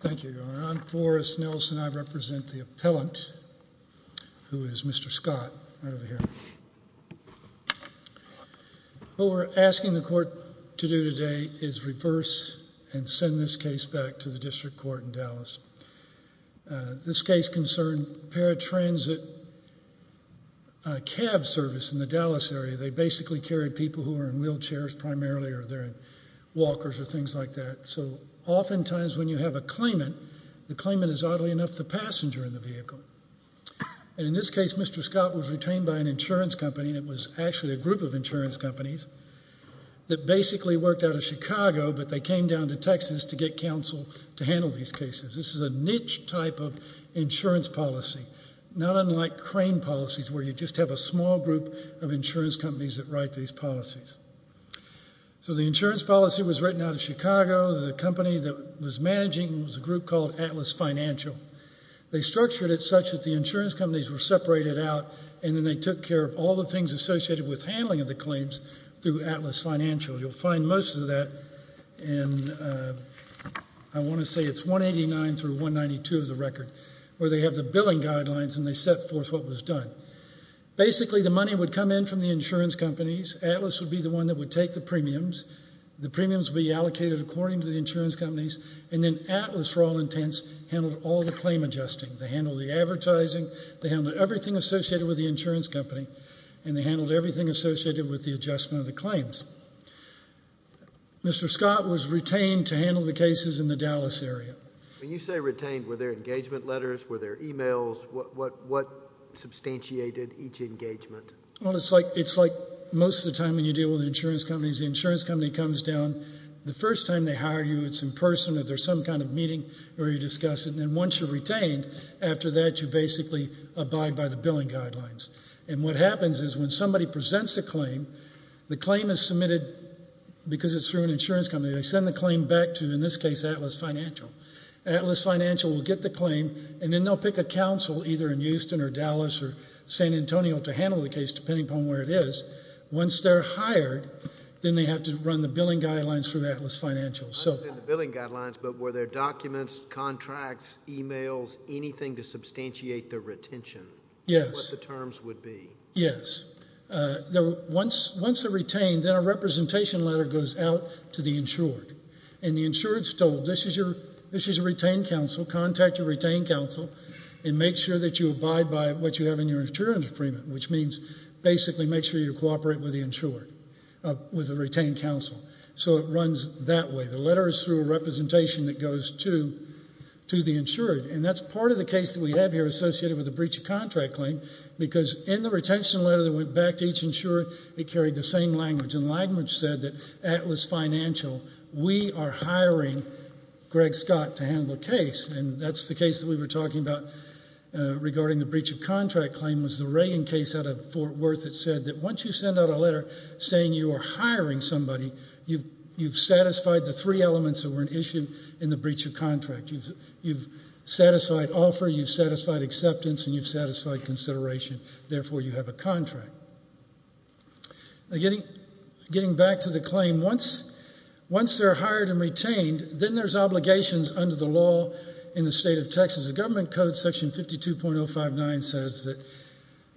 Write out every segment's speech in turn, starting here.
Thank you, Your Honor. I'm Forrest Nelson. I represent the appellant, who is Mr. Scott, right over here. What we're asking the court to do today is reverse and send this case back to the district court in Dallas. This case concerned paratransit cab service in the Dallas area. They basically carry people who are in wheelchairs primarily or they're in walkers or things like that. Oftentimes, when you have a claimant, the claimant is oddly enough the passenger in the vehicle. In this case, Mr. Scott was retained by an insurance company. It was actually a group of insurance companies that basically worked out of Chicago, but they came down to Texas to get counsel to handle these cases. This is a niche type of insurance policy, not unlike crane policies, where you just have a small group of insurance companies that write these policies. So the insurance policy was written out of Chicago. The company that was managing it was a group called Atlas Financial. They structured it such that the insurance companies were separated out, and then they took care of all the things associated with handling of the claims through Atlas Financial. You'll find most of that in, I want to say it's 189 through 192 of the record, where they have the billing guidelines and they set forth what was done. Basically, the money would come in from the insurance companies. Atlas would be the one that would take the premiums. The premiums would be allocated according to the insurance companies, and then Atlas, for all intents, handled all the claim adjusting. They handled the advertising. They handled everything associated with the insurance company, and they handled everything associated with the adjustment of the claims. Mr. Scott was retained to handle the cases in the Dallas area. When you say retained, were there engagement letters? Were there emails? What substantiated each engagement? Well, it's like most of the time when you deal with insurance companies, the insurance company comes down. The first time they hire you, it's in person. If there's some kind of meeting where you discuss it, and then once you're retained, after that you basically abide by the billing guidelines. And what happens is when somebody presents a claim, the claim is submitted because it's through an insurance company. They send the claim back to, in this case, Atlas Financial. Atlas Financial will get the claim, and then they'll pick a council either in Houston or Dallas or San Antonio to handle the case depending upon where it is. Once they're hired, then they have to run the billing guidelines through Atlas Financial. Not just the billing guidelines, but were there documents, contracts, emails, anything to substantiate the retention? Yes. What the terms would be. Yes. Once they're retained, then a representation letter goes out to the insured, and the insured is told, this is your retained counsel. Contact your retained counsel and make sure that you abide by what you have in your insurance agreement, which means basically make sure you cooperate with the insured, with the retained counsel. So it runs that way. The letter is through a representation that goes to the insured, and that's part of the case that we have here associated with a breach of contract claim because in the retention letter that went back to each insured, it carried the same language, and the language said that Atlas Financial, we are hiring Greg Scott to handle the case, and that's the case that we were talking about regarding the breach of contract claim, was the Reagan case out of Fort Worth that said that once you send out a letter saying you are hiring somebody, you've satisfied the three elements that were an issue in the breach of contract. You've satisfied offer, you've satisfied acceptance, and you've satisfied consideration. Therefore, you have a contract. Getting back to the claim, once they're hired and retained, then there's obligations under the law in the state of Texas. The government code section 52.059 says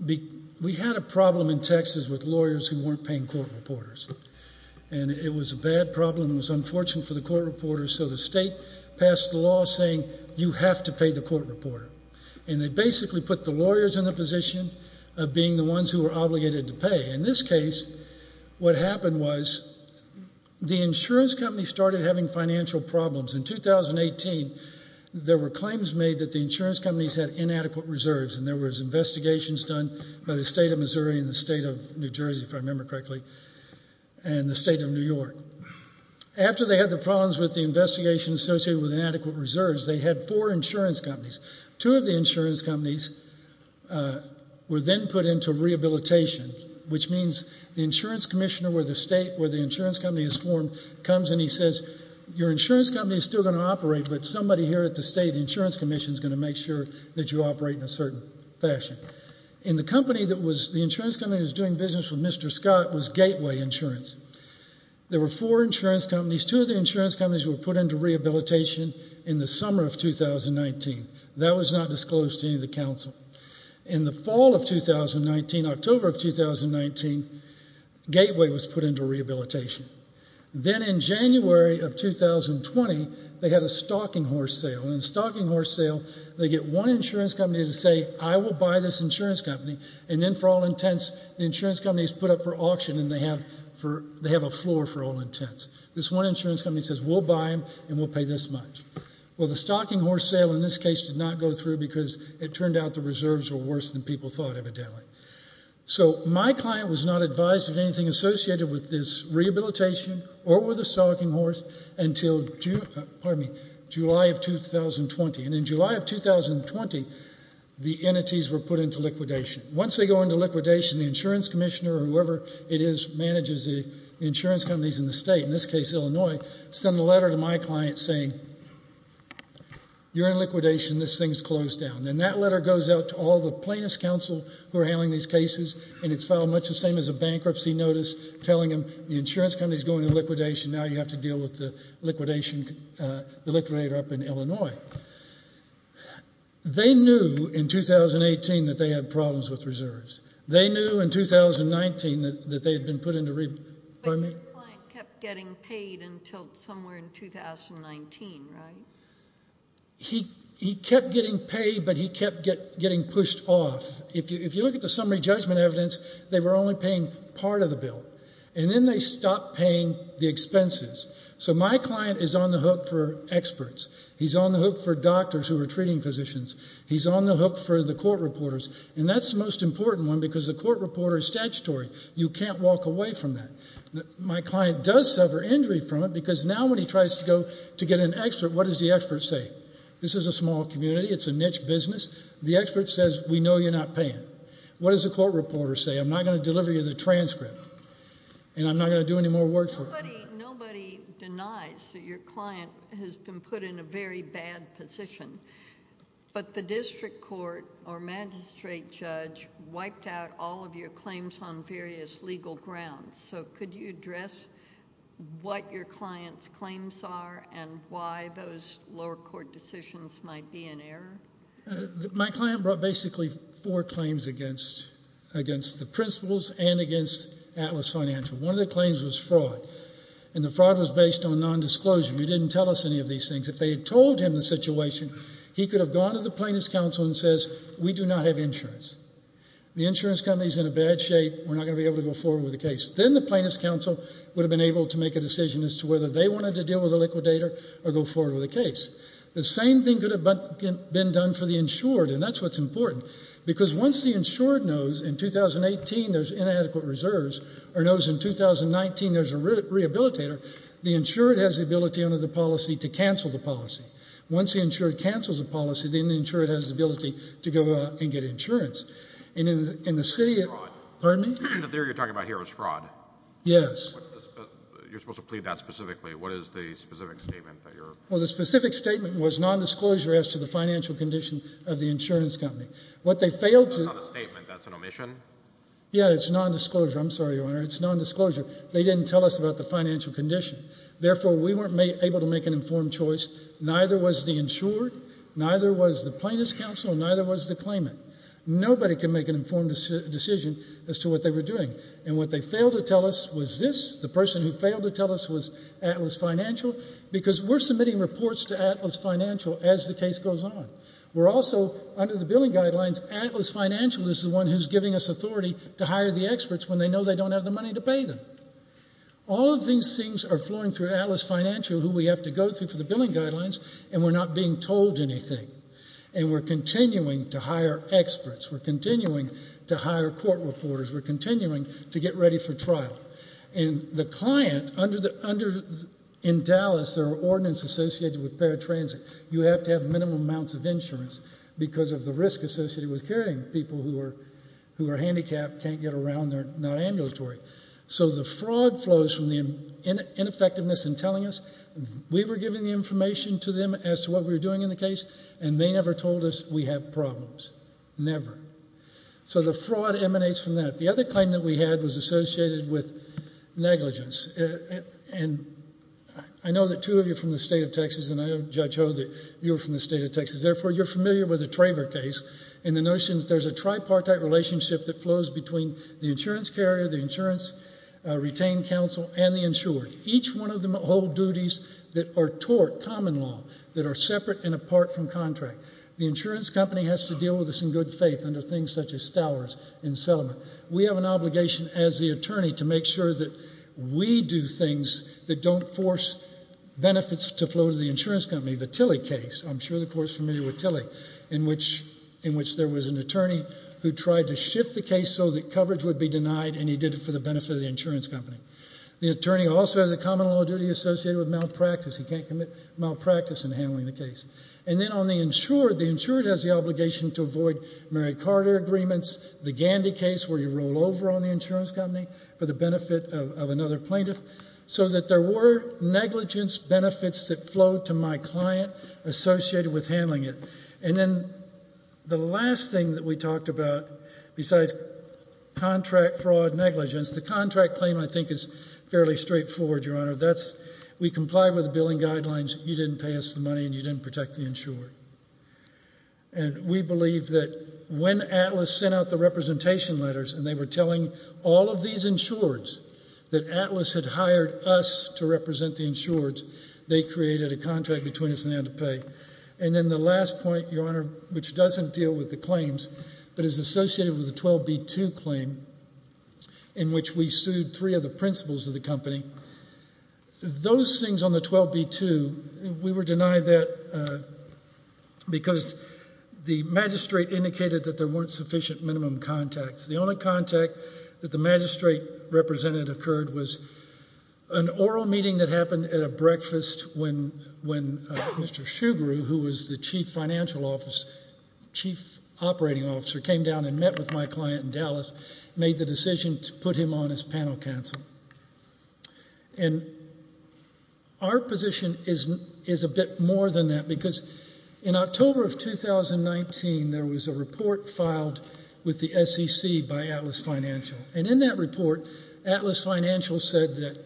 that we had a problem in Texas with lawyers who weren't paying court reporters, and it was a bad problem. It was unfortunate for the court reporters, so the state passed a law saying you have to pay the court reporter, and they basically put the lawyers in the position of being the ones who were obligated to pay. In this case, what happened was the insurance company started having financial problems. In 2018, there were claims made that the insurance companies had inadequate reserves, and there was investigations done by the state of Missouri and the state of New Jersey, if I remember correctly, and the state of New York. After they had the problems with the investigation associated with inadequate reserves, they had four insurance companies. Two of the insurance companies were then put into rehabilitation, which means the insurance commissioner where the state where the insurance company is formed comes, and he says your insurance company is still going to operate, but somebody here at the state insurance commission is going to make sure that you operate in a certain fashion. The insurance company that was doing business with Mr. Scott was Gateway Insurance. There were four insurance companies. These two of the insurance companies were put into rehabilitation in the summer of 2019. That was not disclosed to any of the council. In the fall of 2019, October of 2019, Gateway was put into rehabilitation. Then in January of 2020, they had a stocking horse sale, and in the stocking horse sale, they get one insurance company to say I will buy this insurance company, and then for all intents, the insurance company is put up for auction, and they have a floor for all intents. This one insurance company says we'll buy them, and we'll pay this much. Well, the stocking horse sale in this case did not go through because it turned out the reserves were worse than people thought evidently. So my client was not advised of anything associated with this rehabilitation or with the stocking horse until July of 2020, and in July of 2020, the entities were put into liquidation. Once they go into liquidation, the insurance commissioner or whoever it is manages the insurance companies in the state, in this case Illinois, sent a letter to my client saying you're in liquidation. This thing is closed down, and that letter goes out to all the plaintiffs' counsel who are handling these cases, and it's filed much the same as a bankruptcy notice telling them the insurance company is going into liquidation. Now you have to deal with the liquidator up in Illinois. They knew in 2018 that they had problems with reserves. They knew in 2019 that they had been put into rehabilitation. But your client kept getting paid until somewhere in 2019, right? He kept getting paid, but he kept getting pushed off. If you look at the summary judgment evidence, they were only paying part of the bill, and then they stopped paying the expenses. So my client is on the hook for experts. He's on the hook for doctors who are treating physicians. He's on the hook for the court reporters, and that's the most important one because the court reporter is statutory. You can't walk away from that. My client does suffer injury from it because now when he tries to go to get an expert, what does the expert say? This is a small community. It's a niche business. The expert says we know you're not paying. What does the court reporter say? I'm not going to deliver you the transcript, and I'm not going to do any more work for you. Nobody denies that your client has been put in a very bad position, but the district court or magistrate judge wiped out all of your claims on various legal grounds. So could you address what your client's claims are and why those lower court decisions might be in error? My client brought basically four claims against the principals and against Atlas Financial. One of the claims was fraud, and the fraud was based on nondisclosure. He didn't tell us any of these things. If they had told him the situation, he could have gone to the plaintiff's counsel and said we do not have insurance. The insurance company is in a bad shape. We're not going to be able to go forward with the case. Then the plaintiff's counsel would have been able to make a decision as to whether they wanted to deal with the liquidator or go forward with the case. The same thing could have been done for the insured, and that's what's important because once the insured knows in 2018 there's inadequate reserves or knows in 2019 there's a rehabilitator, the insured has the ability under the policy to cancel the policy. Once the insured cancels the policy, then the insured has the ability to go out and get insurance. And in the city, pardon me? The theory you're talking about here was fraud. Yes. You're supposed to plead that specifically. What is the specific statement that you're… Well, the specific statement was nondisclosure as to the financial condition of the insurance company. What they failed to… That's not a statement. That's an omission. Yeah, it's nondisclosure. I'm sorry, Your Honor. It's nondisclosure. They didn't tell us about the financial condition. Therefore, we weren't able to make an informed choice. Neither was the insured, neither was the plaintiff's counsel, and neither was the claimant. Nobody can make an informed decision as to what they were doing. And what they failed to tell us was this. The person who failed to tell us was Atlas Financial because we're submitting reports to Atlas Financial as the case goes on. We're also, under the billing guidelines, Atlas Financial is the one who's giving us authority to hire the experts when they know they don't have the money to pay them. All of these things are flowing through Atlas Financial, who we have to go through for the billing guidelines, and we're not being told anything. And we're continuing to hire experts. We're continuing to hire court reporters. We're continuing to get ready for trial. And the client, in Dallas, there are ordinance associated with paratransit. You have to have minimum amounts of insurance because of the risk associated with carrying people who are handicapped, can't get around, they're not ambulatory. So the fraud flows from the ineffectiveness in telling us. We were giving the information to them as to what we were doing in the case, and they never told us we have problems. Never. So the fraud emanates from that. The other claim that we had was associated with negligence. And I know that two of you are from the state of Texas, and I know, Judge Ho, that you're from the state of Texas. Therefore, you're familiar with the Traver case and the notion that there's a tripartite relationship that flows between the insurance carrier, the insurance retained counsel, and the insurer. Each one of them hold duties that are tort, common law, that are separate and apart from contract. The insurance company has to deal with this in good faith under things such as stowers and settlement. We have an obligation as the attorney to make sure that we do things that don't force benefits to flow to the insurance company. The Tilley case, I'm sure the court's familiar with Tilley, in which there was an attorney who tried to shift the case so that coverage would be denied, and he did it for the benefit of the insurance company. The attorney also has a common law duty associated with malpractice. He can't commit malpractice in handling the case. And then on the insurer, the insurer has the obligation to avoid Mary Carter agreements, the Gandy case where you roll over on the insurance company for the benefit of another plaintiff, so that there were negligence benefits that flowed to my client associated with handling it. And then the last thing that we talked about, besides contract fraud negligence, the contract claim I think is fairly straightforward, Your Honor. We complied with the billing guidelines. You didn't pay us the money, and you didn't protect the insurer. And we believe that when Atlas sent out the representation letters and they were telling all of these insurers that Atlas had hired us to represent the insurers, they created a contract between us and they had to pay. And then the last point, Your Honor, which doesn't deal with the claims but is associated with the 12B2 claim in which we sued three of the principals of the company, those things on the 12B2, we were denied that because the magistrate indicated that there weren't sufficient minimum contacts. The only contact that the magistrate represented occurred was an oral meeting that happened at a breakfast when Mr. Shugaroo, who was the chief financial officer, chief operating officer, came down and met with my client in Dallas, made the decision to put him on as panel counsel. And our position is a bit more than that because in October of 2019, there was a report filed with the SEC by Atlas Financial. And in that report, Atlas Financial said that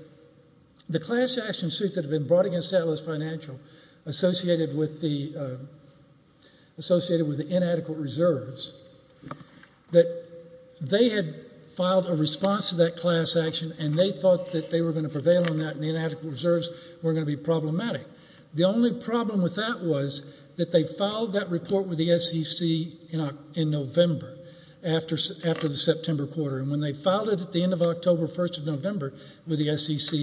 the class action suit that had been brought against Atlas Financial associated with the inadequate reserves, that they had filed a response to that class action and they thought that they were going to prevail on that and the inadequate reserves were going to be problematic. The only problem with that was that they filed that report with the SEC in November after the September quarter and when they filed it at the end of October 1st of November with the SEC,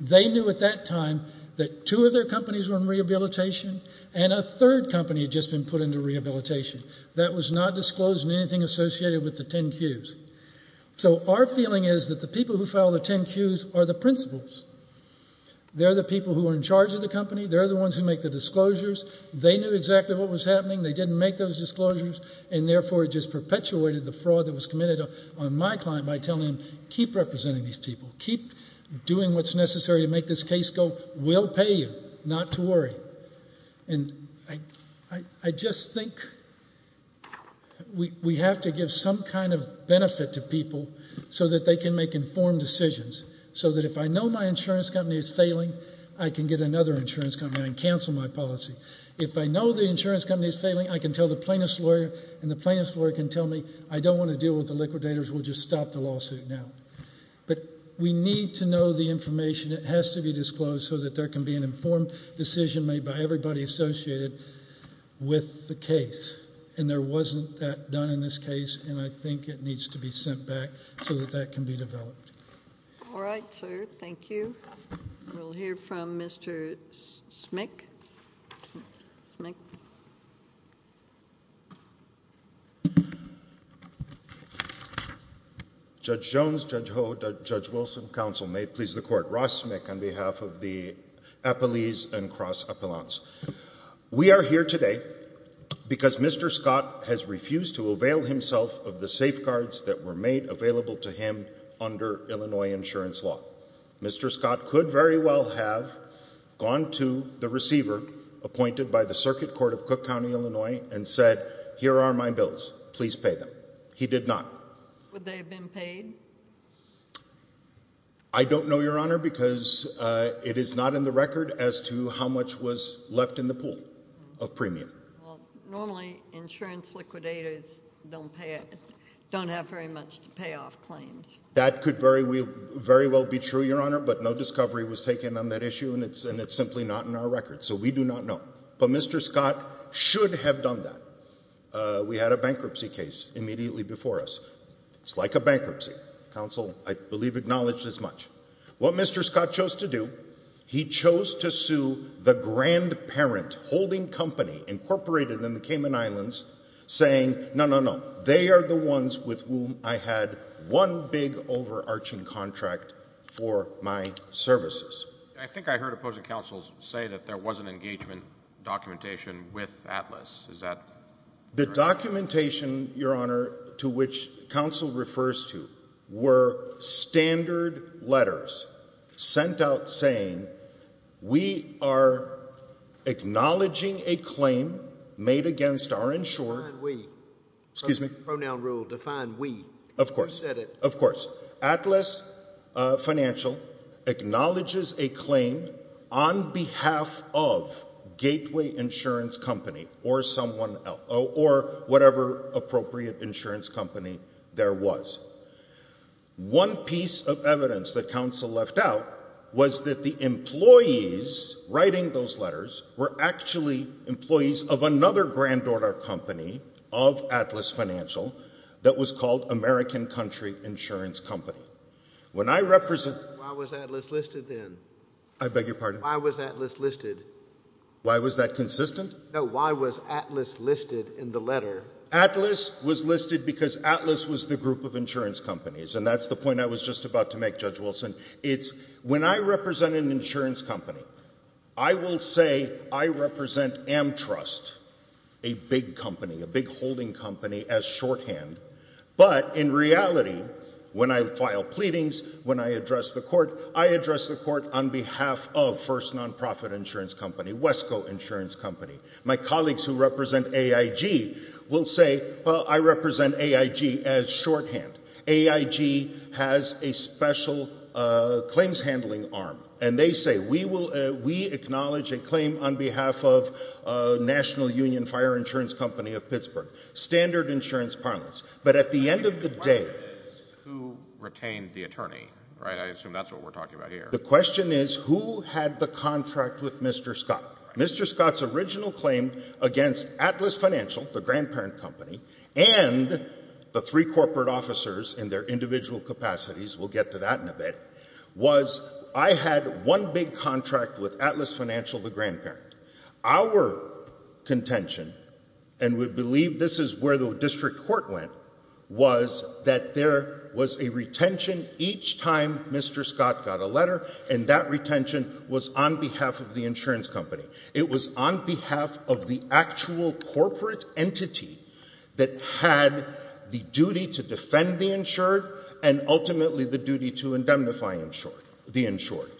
they knew at that time that two of their companies were in rehabilitation and a third company had just been put into rehabilitation. That was not disclosed in anything associated with the 10Qs. So our feeling is that the people who filed the 10Qs are the principals. They're the people who are in charge of the company. They're the ones who make the disclosures. They knew exactly what was happening. They didn't make those disclosures and therefore it just perpetuated the fraud that was committed on my client by telling him, keep representing these people. Keep doing what's necessary to make this case go. We'll pay you not to worry. And I just think we have to give some kind of benefit to people so that they can make informed decisions so that if I know my insurance company is failing, I can get another insurance company and cancel my policy. If I know the insurance company is failing, I can tell the plaintiff's lawyer and the plaintiff's lawyer can tell me, I don't want to deal with the liquidators, we'll just stop the lawsuit now. But we need to know the information that has to be disclosed so that there can be an informed decision made by everybody associated with the case. And there wasn't that done in this case and I think it needs to be sent back so that that can be developed. All right, sir, thank you. We'll hear from Mr. Smick. Judge Jones, Judge Ho, Judge Wilson, counsel, may it please the court. Ross Smick on behalf of the Appalese and Cross Appalachians. We are here today because Mr. Scott has refused to avail himself of the safeguards that were made available to him under Illinois insurance law. Mr. Scott could very well have gone to the receiver appointed by the Circuit Court of Cook County, Illinois, and said, here are my bills, please pay them. He did not. Would they have been paid? I don't know, Your Honor, because it is not in the record as to how much was left in the pool of premium. Well, normally insurance liquidators don't pay, don't have very much to pay off claims. That could very well be true, Your Honor, but no discovery was taken on that issue, and it's simply not in our record. So we do not know. But Mr. Scott should have done that. We had a bankruptcy case immediately before us. It's like a bankruptcy. Counsel, I believe, acknowledged as much. What Mr. Scott chose to do, he chose to sue the grandparent holding company incorporated in the Cayman Islands, saying, no, no, no, they are the ones with whom I had one big overarching contract for my services. I think I heard opposing counsels say that there was an engagement documentation with Atlas. Is that correct? The documentation, Your Honor, to which counsel refers to were standard letters sent out saying, we are acknowledging a claim made against our insurer Define we. Excuse me? Pronoun rule, define we. Of course. You said it. Of course. Atlas Financial acknowledges a claim on behalf of Gateway Insurance Company or whatever appropriate insurance company there was. One piece of evidence that counsel left out was that the employees writing those letters were actually employees of another granddaughter company of Atlas Financial that was called American Country Insurance Company. When I represent... Why was Atlas listed then? I beg your pardon? Why was Atlas listed? Why was that consistent? No, why was Atlas listed in the letter? Atlas was listed because Atlas was the group of insurance companies, and that's the point I was just about to make, Judge Wilson. It's when I represent an insurance company, I will say I represent Amtrust, a big company, a big holding company, as shorthand. But in reality, when I file pleadings, when I address the court, I address the court on behalf of First Nonprofit Insurance Company, Wesco Insurance Company. My colleagues who represent AIG will say, well, I represent AIG as shorthand. AIG has a special claims handling arm, and they say we acknowledge a claim on behalf of National Union Fire Insurance Company of Pittsburgh, standard insurance parlance. But at the end of the day... The question is who retained the attorney, right? I assume that's what we're talking about here. The question is who had the contract with Mr. Scott. Mr. Scott's original claim against Atlas Financial, the grandparent company, and the three corporate officers in their individual capacities, we'll get to that in a bit, was I had one big contract with Atlas Financial, the grandparent. Our contention, and we believe this is where the district court went, was that there was a retention each time Mr. Scott got a letter, and that retention was on behalf of the insurance company. It was on behalf of the actual corporate entity that had the duty to defend the insured and ultimately the duty to indemnify the insured.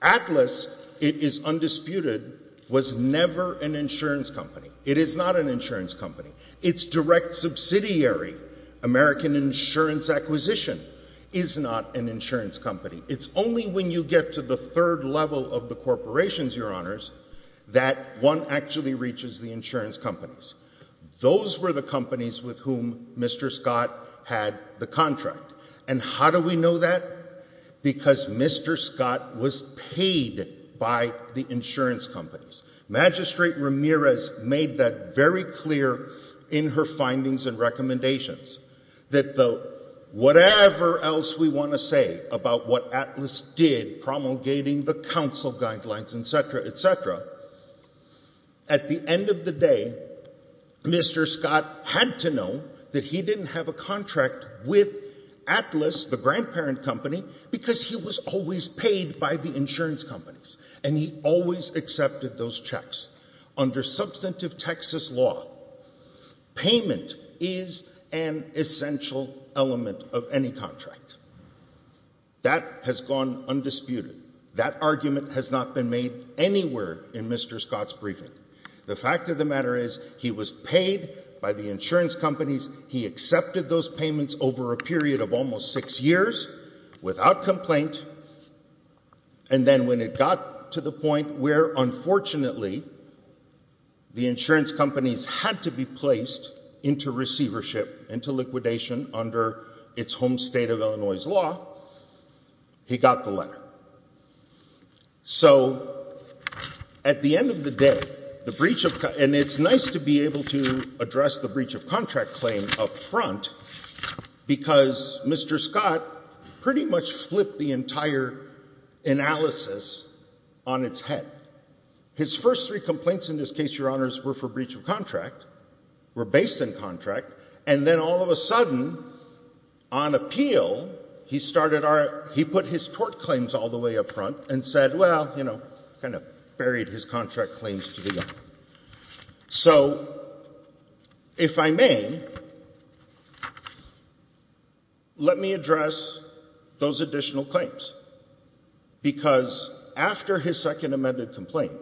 Atlas, it is undisputed, was never an insurance company. It is not an insurance company. Its direct subsidiary, American Insurance Acquisition, is not an insurance company. It's only when you get to the third level of the corporations, Your Honors, that one actually reaches the insurance companies. Those were the companies with whom Mr. Scott had the contract. And how do we know that? Because Mr. Scott was paid by the insurance companies. Magistrate Ramirez made that very clear in her findings and recommendations, that whatever else we want to say about what Atlas did, promulgating the counsel guidelines, etc., etc., at the end of the day, Mr. Scott had to know that he didn't have a contract with Atlas, the grandparent company, because he was always paid by the insurance companies, and he always accepted those checks. Under substantive Texas law, payment is an essential element of any contract. That has gone undisputed. That argument has not been made anywhere in Mr. Scott's briefing. The fact of the matter is he was paid by the insurance companies, he accepted those payments over a period of almost six years without complaint, and then when it got to the point where, unfortunately, the insurance companies had to be placed into receivership, into liquidation under its home state of Illinois' law, he got the letter. So, at the end of the day, the breach of contract, and it's nice to be able to address the breach of contract claim up front, because Mr. Scott pretty much flipped the entire analysis on its head. His first three complaints in this case, Your Honors, were for breach of contract, were based in contract, and then all of a sudden, on appeal, he started our – he put his tort claims all the way up front and said, well, you know, kind of buried his contract claims to the end. So, if I may, let me address those additional claims, because after his second amended complaint,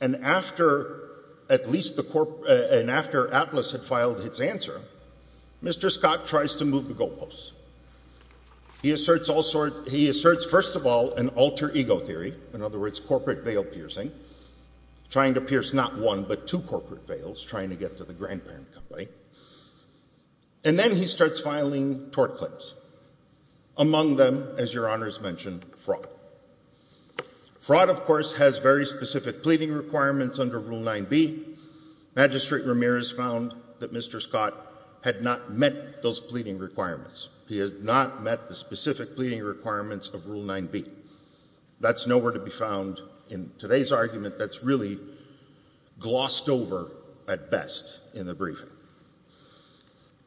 and after at least the – and after Atlas had filed its answer, Mr. Scott tries to move the goalposts. He asserts all sorts – he asserts, first of all, an alter ego theory, in other words, corporate veil piercing, trying to pierce not one but two corporate veils, trying to get to the grandparent company, and then he starts filing tort claims, among them, as Your Honors mentioned, fraud. Fraud, of course, has very specific pleading requirements under Rule 9b. Magistrate Ramirez found that Mr. Scott had not met those pleading requirements. He had not met the specific pleading requirements of Rule 9b. That's nowhere to be found in today's argument. That's really glossed over at best in the briefing.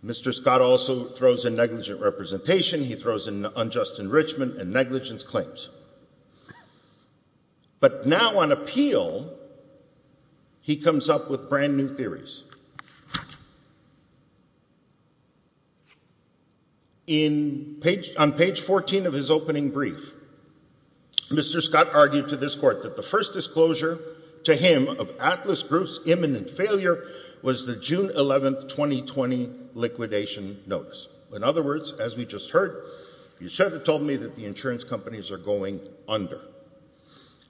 Mr. Scott also throws in negligent representation. He throws in unjust enrichment and negligence claims. But now on appeal, he comes up with brand-new theories. On page 14 of his opening brief, Mr. Scott argued to this court that the first disclosure to him of Atlas Group's imminent failure was the June 11, 2020, liquidation notice. In other words, as we just heard, you should have told me that the insurance companies are going under.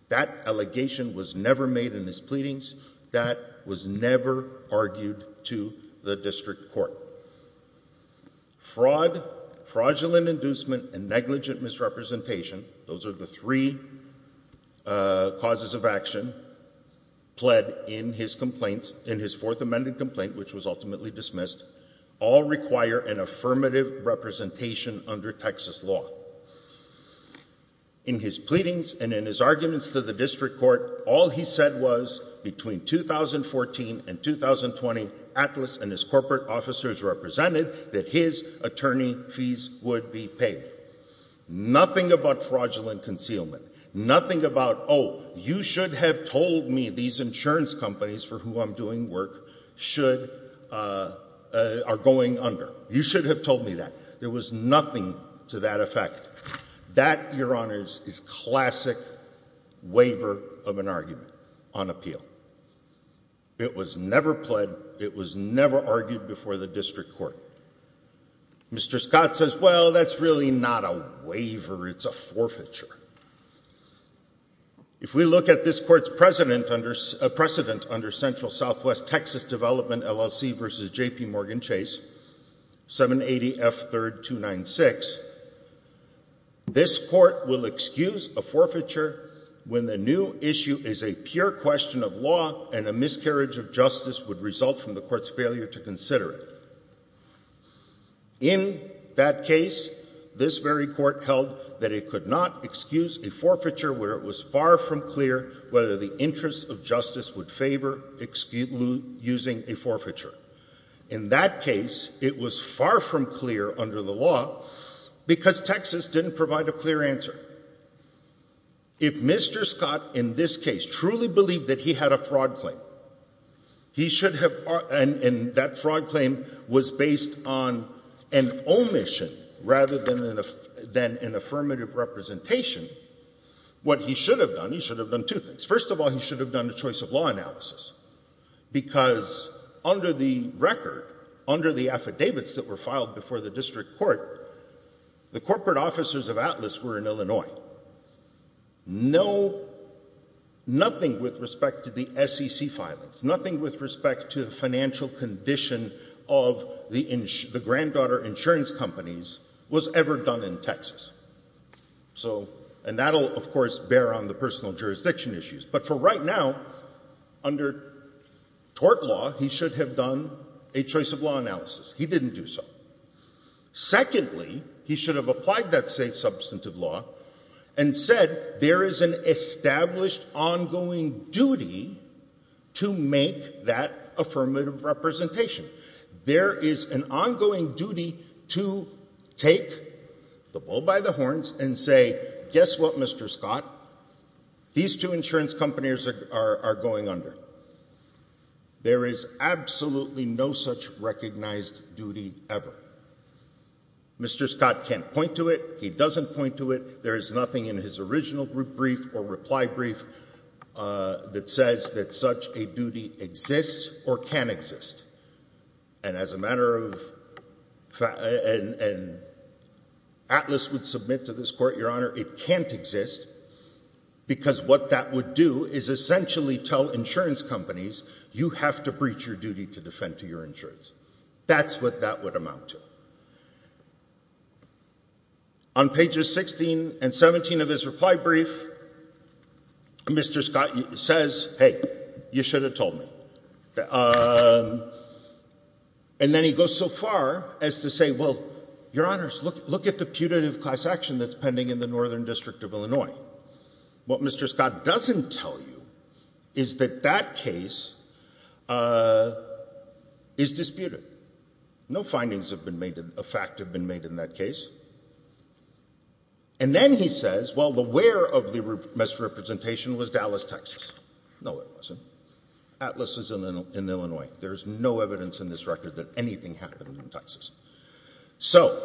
That allegation was never made in his pleadings. That was never argued to the district court. Fraud, fraudulent inducement, and negligent misrepresentation, those are the three causes of action, pled in his fourth amended complaint, which was ultimately dismissed, all require an affirmative representation under Texas law. In his pleadings and in his arguments to the district court, all he said was, between 2014 and 2020, Atlas and his corporate officers represented that his attorney fees would be paid. Nothing about fraudulent concealment. Nothing about, oh, you should have told me that these insurance companies for whom I'm doing work are going under. You should have told me that. There was nothing to that effect. That, Your Honors, is classic waiver of an argument on appeal. It was never pled. It was never argued before the district court. Mr. Scott says, well, that's really not a waiver. It's a forfeiture. If we look at this court's precedent under Central Southwest Texas Development LLC v. J.P. Morgan Chase, 780 F. 3rd 296, this court will excuse a forfeiture when the new issue is a pure question of law and a miscarriage of justice would result from the court's failure to consider it. In that case, this very court held that it could not excuse a forfeiture where it was far from clear whether the interest of justice would favor using a forfeiture. In that case, it was far from clear under the law because Texas didn't provide a clear answer. If Mr. Scott in this case truly believed that he had a fraud claim, he should have, and that fraud claim was based on an omission rather than an affirmative representation, what he should have done, he should have done two things. First of all, he should have done a choice of law analysis because under the record, under the affidavits that were filed before the district court, the corporate officers of Atlas were in Illinois. Nothing with respect to the SEC filings, nothing with respect to the financial condition of the granddaughter insurance companies was ever done in Texas. And that will, of course, bear on the personal jurisdiction issues. But for right now, under tort law, he should have done a choice of law analysis. He didn't do so. Secondly, he should have applied that same substantive law and said there is an established ongoing duty to make that affirmative representation. There is an ongoing duty to take the bull by the horns and say, guess what, Mr. Scott? These two insurance companies are going under. There is absolutely no such recognized duty ever. Mr. Scott can't point to it. He doesn't point to it. There is nothing in his original brief or reply brief that says that such a duty exists or can exist. And as a matter of fact, and Atlas would submit to this court, Your Honor, it can't exist because what that would do is essentially tell insurance companies, you have to breach your duty to defend to your insurance. That's what that would amount to. On pages 16 and 17 of his reply brief, Mr. Scott says, hey, you should have told me. And then he goes so far as to say, well, Your Honors, look at the putative class action that's pending in the Northern District of Illinois. What Mr. Scott doesn't tell you is that that case is disputed. No findings of fact have been made in that case. And then he says, well, the where of the misrepresentation was Dallas, Texas. No, it wasn't. Atlas is in Illinois. There is no evidence in this record that anything happened in Texas. So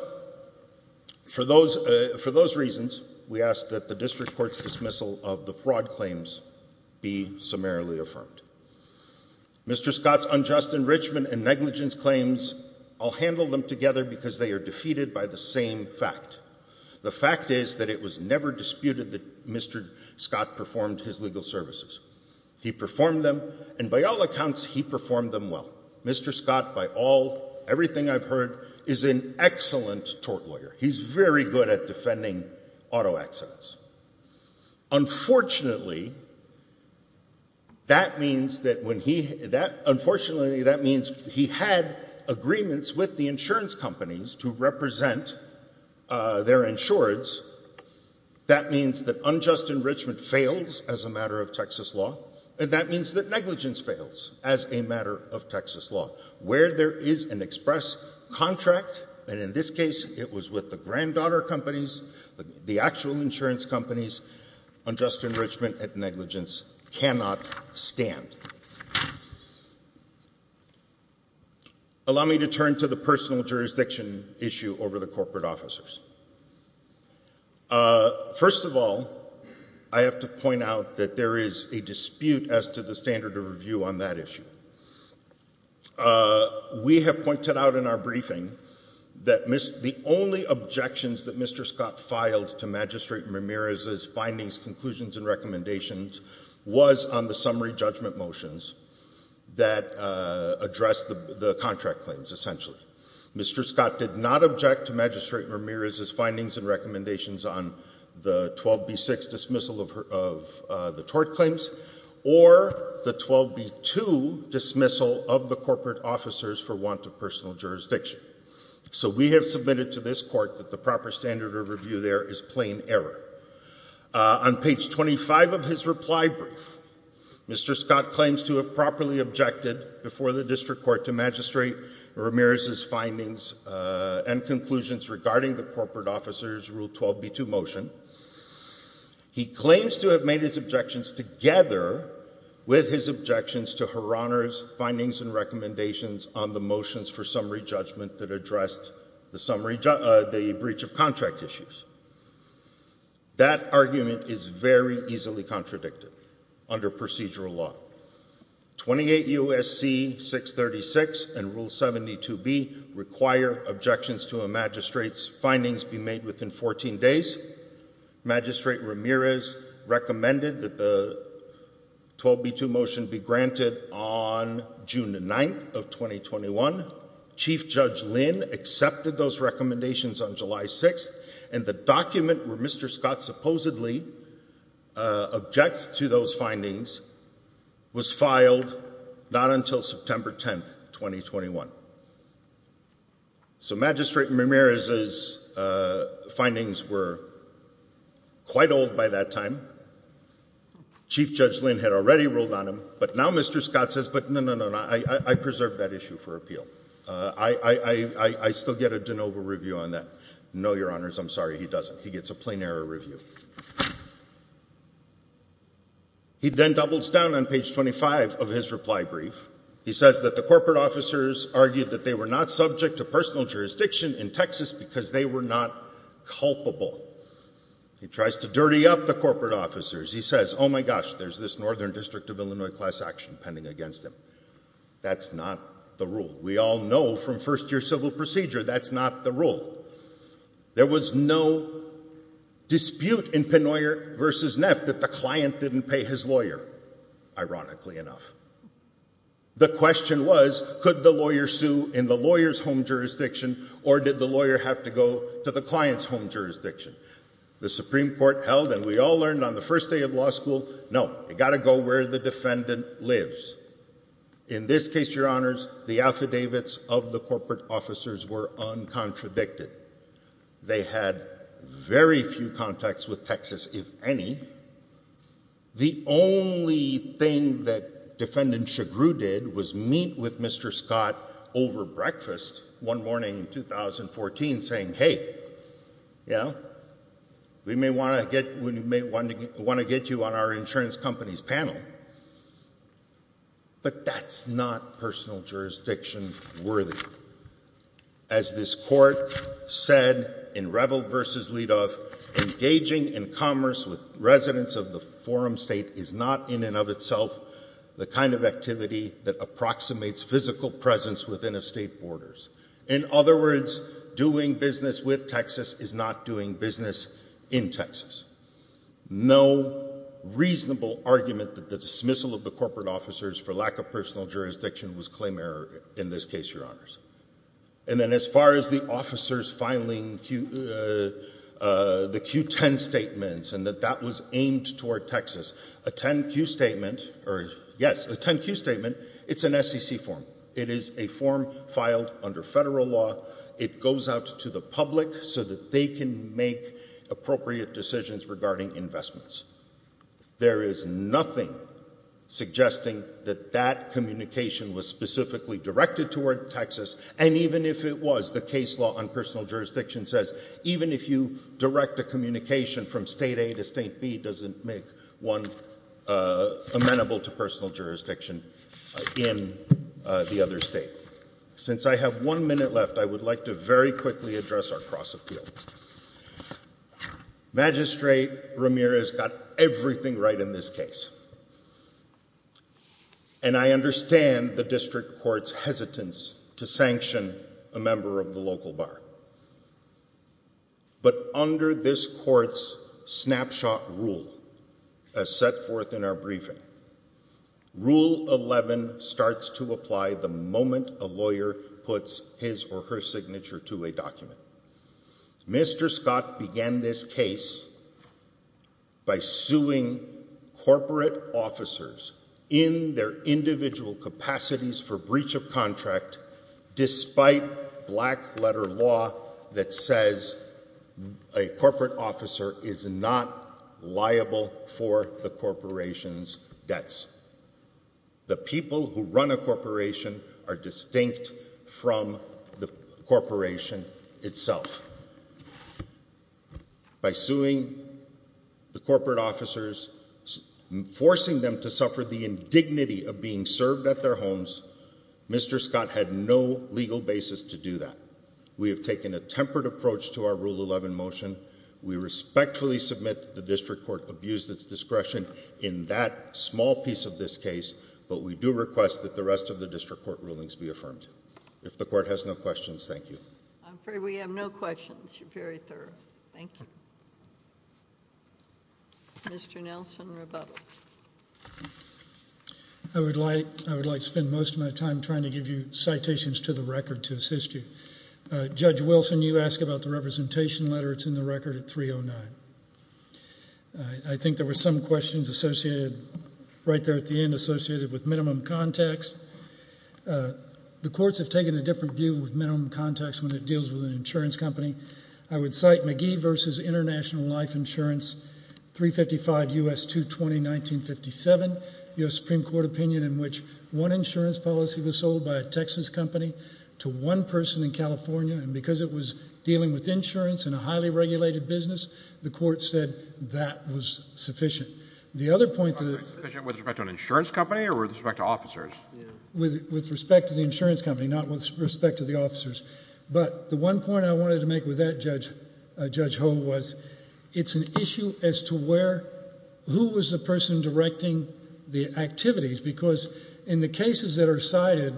for those reasons, we ask that the district court's dismissal of the fraud claims be summarily affirmed. Mr. Scott's unjust enrichment and negligence claims, I'll handle them together because they are defeated by the same fact. The fact is that it was never disputed that Mr. Scott performed his legal services. He performed them, and by all accounts, he performed them well. Mr. Scott, by all, everything I've heard, is an excellent tort lawyer. He's very good at defending auto accidents. Unfortunately, that means that when he, unfortunately, that means he had agreements with the insurance companies to represent their insureds. That means that unjust enrichment fails as a matter of Texas law, and that means that negligence fails as a matter of Texas law. Where there is an express contract, and in this case, it was with the granddaughter companies, the actual insurance companies, unjust enrichment and negligence cannot stand. Allow me to turn to the personal jurisdiction issue over the corporate officers. First of all, I have to point out that there is a dispute as to the standard of review on that issue. We have pointed out in our briefing that the only objections that Mr. Scott filed to Magistrate Ramirez's findings, conclusions, and recommendations was on the summary judgment motions that addressed the contract claims, essentially. Mr. Scott did not object to Magistrate Ramirez's findings and recommendations on the 12B6 dismissal of the tort claims or the 12B2 dismissal of the corporate officers for want of personal jurisdiction. So we have submitted to this Court that the proper standard of review there is plain error. On page 25 of his reply brief, Mr. Scott claims to have properly objected before the District Court to Magistrate Ramirez's findings and conclusions regarding the corporate officers' Rule 12B2 motion. He claims to have made his objections together with his objections to Her Honor's findings and recommendations on the motions for summary judgment that addressed the breach of contract issues. That argument is very easily contradicted under procedural law. 28 U.S.C. 636 and Rule 72B require objections to a magistrate's findings be made within 14 days. Magistrate Ramirez recommended that the 12B2 motion be granted on June 9, 2021. Chief Judge Lynn accepted those recommendations on July 6, and the document where Mr. Scott supposedly objects to those findings was filed not until September 10, 2021. So Magistrate Ramirez's findings were quite old by that time. Chief Judge Lynn had already ruled on them, but now Mr. Scott says, but no, no, no, I preserved that issue for appeal. I still get a de novo review on that. No, Your Honors, I'm sorry, he doesn't. He gets a plain error review. He then doubles down on page 25 of his reply brief. He says that the corporate officers argued that they were not subject to personal jurisdiction in Texas because they were not culpable. He tries to dirty up the corporate officers. He says, oh, my gosh, there's this Northern District of Illinois class action pending against him. That's not the rule. We all know from first-year civil procedure, that's not the rule. There was no dispute in Penoyer v. Neff that the client didn't pay his lawyer, ironically enough. The question was, could the lawyer sue in the lawyer's home jurisdiction, or did the lawyer have to go to the client's home jurisdiction? The Supreme Court held, and we all learned on the first day of law school, no, you've got to go where the defendant lives. In this case, Your Honors, the affidavits of the corporate officers were uncontradicted. They had very few contacts with Texas, if any. The only thing that Defendant Chagrou did was meet with Mr. Scott over breakfast one morning in 2014 saying, hey, yeah, we may want to get you on our insurance company's panel. But that's not personal jurisdiction worthy. As this Court said in Revel v. Lidoff, engaging in commerce with residents of the forum state is not in and of itself the kind of activity that approximates physical presence within a state borders. In other words, doing business with Texas is not doing business in Texas. No reasonable argument that the dismissal of the corporate officers for lack of personal jurisdiction was claim error in this case, Your Honors. And then as far as the officers filing the Q10 statements and that that was aimed toward Texas, a 10Q statement, or yes, a 10Q statement, it's an SEC form. It is a form filed under federal law. It goes out to the public so that they can make appropriate decisions regarding investments. There is nothing suggesting that that communication was specifically directed toward Texas. And even if it was, the case law on personal jurisdiction says even if you direct a communication from State A to State B doesn't make one amenable to personal jurisdiction in the other state. Since I have one minute left, I would like to very quickly address our cross-appeal. Magistrate Ramirez got everything right in this case. And I understand the district court's hesitance to sanction a member of the local bar. But under this court's snapshot rule, as set forth in our briefing, rule 11 starts to apply the moment a lawyer puts his or her signature to a document. Mr. Scott began this case by suing corporate officers in their individual capacities for breach of contract despite black letter law that says a corporate officer is not liable for the corporation's debts. The people who run a corporation are distinct from the corporation itself. By suing the corporate officers, forcing them to suffer the indignity of being served at their homes, Mr. Scott had no legal basis to do that. We have taken a tempered approach to our rule 11 motion. We respectfully submit the district court abused its discretion in that small piece of this case. But we do request that the rest of the district court rulings be affirmed. If the court has no questions, thank you. I'm afraid we have no questions. You're very thorough. Thank you. Mr. Nelson, rebuttal. I would like to spend most of my time trying to give you citations to the record to assist you. Judge Wilson, you ask about the representation letter. It's in the record at 309. I think there were some questions associated right there at the end associated with minimum context. The courts have taken a different view with minimum context when it deals with an insurance company. I would cite McGee versus International Life Insurance 355 U.S. 220-1957, U.S. Supreme Court opinion in which one insurance policy was sold by a Texas company to one person in California. And because it was dealing with insurance and a highly regulated business, the court said that was sufficient. The other point to the- Was it sufficient with respect to an insurance company or with respect to officers? With respect to the insurance company, not with respect to the officers. But the one point I wanted to make with that, Judge Ho, was it's an issue as to who was the person directing the activities. Because in the cases that are cited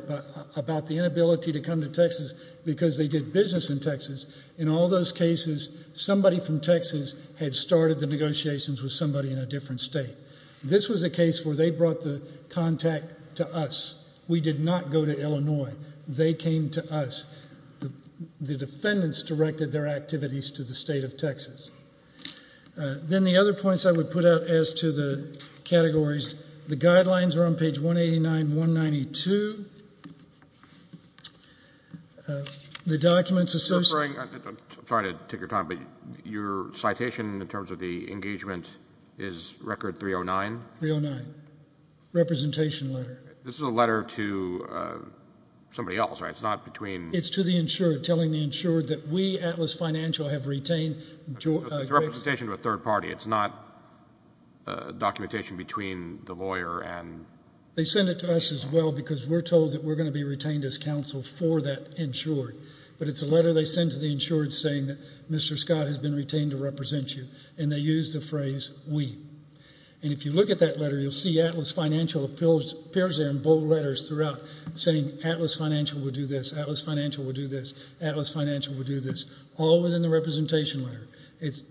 about the inability to come to Texas because they did business in Texas, in all those cases, somebody from Texas had started the negotiations with somebody in a different state. This was a case where they brought the contact to us. We did not go to Illinois. They came to us. The defendants directed their activities to the state of Texas. Then the other points I would put out as to the categories, the guidelines are on page 189, 192. The documents- I'm sorry to take your time, but your citation in terms of the engagement is record 309? 309. Representation letter. This is a letter to somebody else, right? It's not between- It's to the insured telling the insured that we, Atlas Financial, have retained- It's a representation to a third party. It's not documentation between the lawyer and- They send it to us as well because we're told that we're going to be retained as counsel for that insured. But it's a letter they send to the insured saying that Mr. Scott has been retained to represent you, and they use the phrase we. And if you look at that letter, you'll see Atlas Financial appears there in bold letters throughout saying Atlas Financial will do this, Atlas Financial will do this, Atlas Financial will do this, all within the representation letter.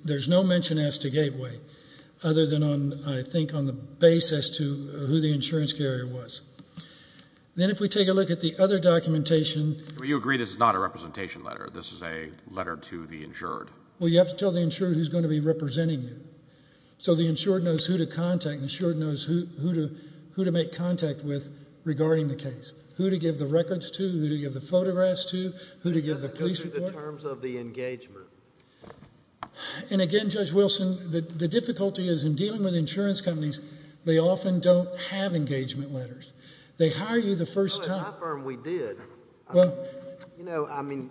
There's no mention as to Gateway, other than on, I think, on the basis to who the insurance carrier was. Then if we take a look at the other documentation- You agree this is not a representation letter. This is a letter to the insured. Well, you have to tell the insured who's going to be representing you. So the insured knows who to contact. The insured knows who to make contact with regarding the case, who to give the records to, who to give the photographs to, who to give the police report. In terms of the engagement. And again, Judge Wilson, the difficulty is in dealing with insurance companies, they often don't have engagement letters. They hire you the first time. Well, at my firm, we did. You know, I mean,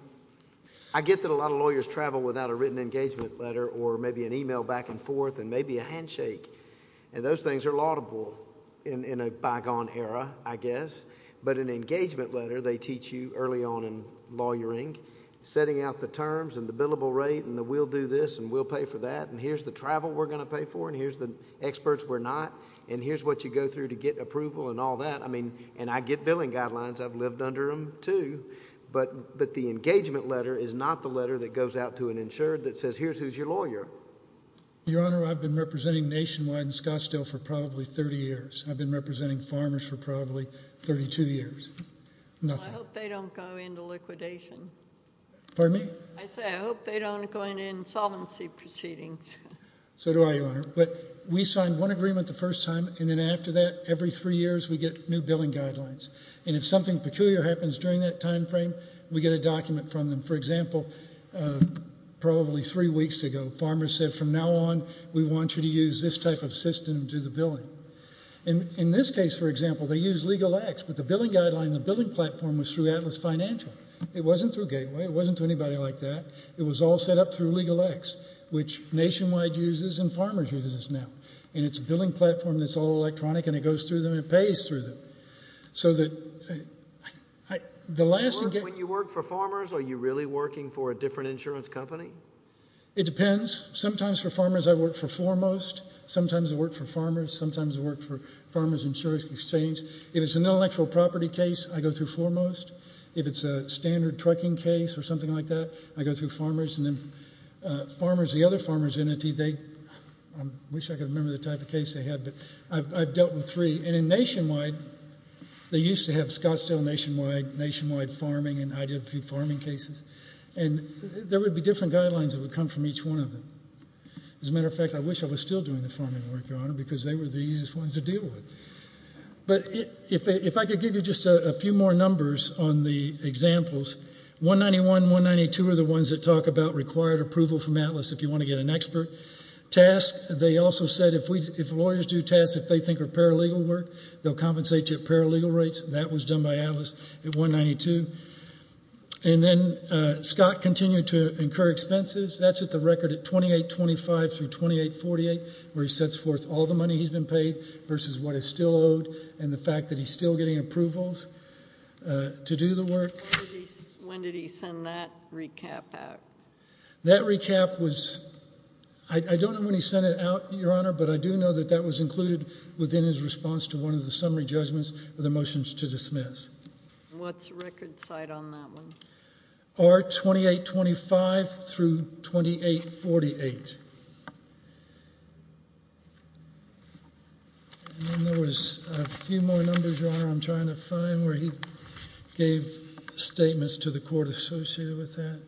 I get that a lot of lawyers travel without a written engagement letter or maybe an email back and forth and maybe a handshake, and those things are laudable in a bygone era, I guess. But an engagement letter, they teach you early on in lawyering, setting out the terms and the billable rate and the we'll do this and we'll pay for that, and here's the travel we're going to pay for and here's the experts we're not, and here's what you go through to get approval and all that. I mean, and I get billing guidelines. I've lived under them too. But the engagement letter is not the letter that goes out to an insured that says, here's who's your lawyer. Your Honor, I've been representing Nationwide and Scottsdale for probably 30 years. I've been representing farmers for probably 32 years. Nothing. I hope they don't go into liquidation. Pardon me? I say I hope they don't go into insolvency proceedings. So do I, Your Honor. But we sign one agreement the first time and then after that, every three years, we get new billing guidelines, and if something peculiar happens during that time frame, we get a document from them. For example, probably three weeks ago, farmers said, from now on, we want you to use this type of system to do the billing. In this case, for example, they use LegalX, but the billing guideline, the billing platform, was through Atlas Financial. It wasn't through Gateway. It wasn't through anybody like that. It was all set up through LegalX, which Nationwide uses and Farmers uses now. And it's a billing platform that's all electronic and it goes through them and it pays through them. So that the last... When you work for farmers, are you really working for a different insurance company? It depends. Sometimes for farmers I work for Foremost. Sometimes I work for farmers. Sometimes I work for Farmers Insurance Exchange. If it's an intellectual property case, I go through Foremost. If it's a standard trucking case or something like that, I go through Farmers. And then the other farmers entity, I wish I could remember the type of case they had, but I've dealt with three. And in Nationwide, they used to have Scottsdale Nationwide, Nationwide Farming, and I did a few farming cases. And there would be different guidelines that would come from each one of them. As a matter of fact, I wish I was still doing the farming work, Your Honor, because they were the easiest ones to deal with. But if I could give you just a few more numbers on the examples, 191 and 192 are the ones that talk about required approval from ATLAS if you want to get an expert task. They also said if lawyers do tasks that they think are paralegal work, they'll compensate you at paralegal rates. That was done by ATLAS at 192. And then Scott continued to incur expenses. That's at the record at 2825 through 2848, where he sets forth all the money he's been paid versus what is still owed and the fact that he's still getting approvals to do the work. When did he send that recap out? That recap was, I don't know when he sent it out, Your Honor, but I do know that that was included within his response to one of the summary judgments with a motion to dismiss. What's the record site on that one? R2825 through 2848. And then there was a few more numbers, Your Honor, I'm trying to find, where he gave statements to the court associated with that.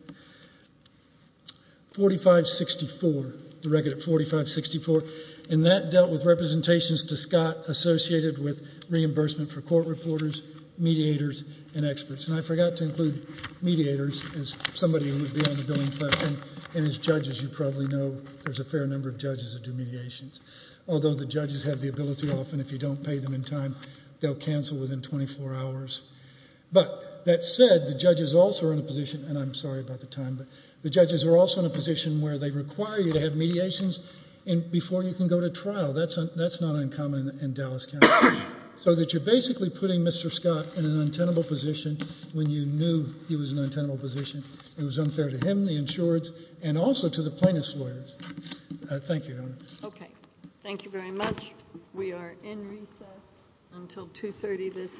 4564, the record at 4564. And that dealt with representations to Scott associated with reimbursement for court reporters, mediators, and experts. And I forgot to include mediators as somebody who would be on the billing platform, and as judges you probably know there's a fair number of judges that do mediations. Although the judges have the ability often if you don't pay them in time, they'll cancel within 24 hours. But that said, the judges also are in a position, and I'm sorry about the time, but the judges are also in a position where they require you to have mediations before you can go to trial. That's not uncommon in Dallas County. So that you're basically putting Mr. Scott in an untenable position when you knew he was in an untenable position. It was unfair to him, the insureds, and also to the plaintiff's lawyers. Thank you. Okay. Thank you very much. We are in recess until 2.30 this afternoon.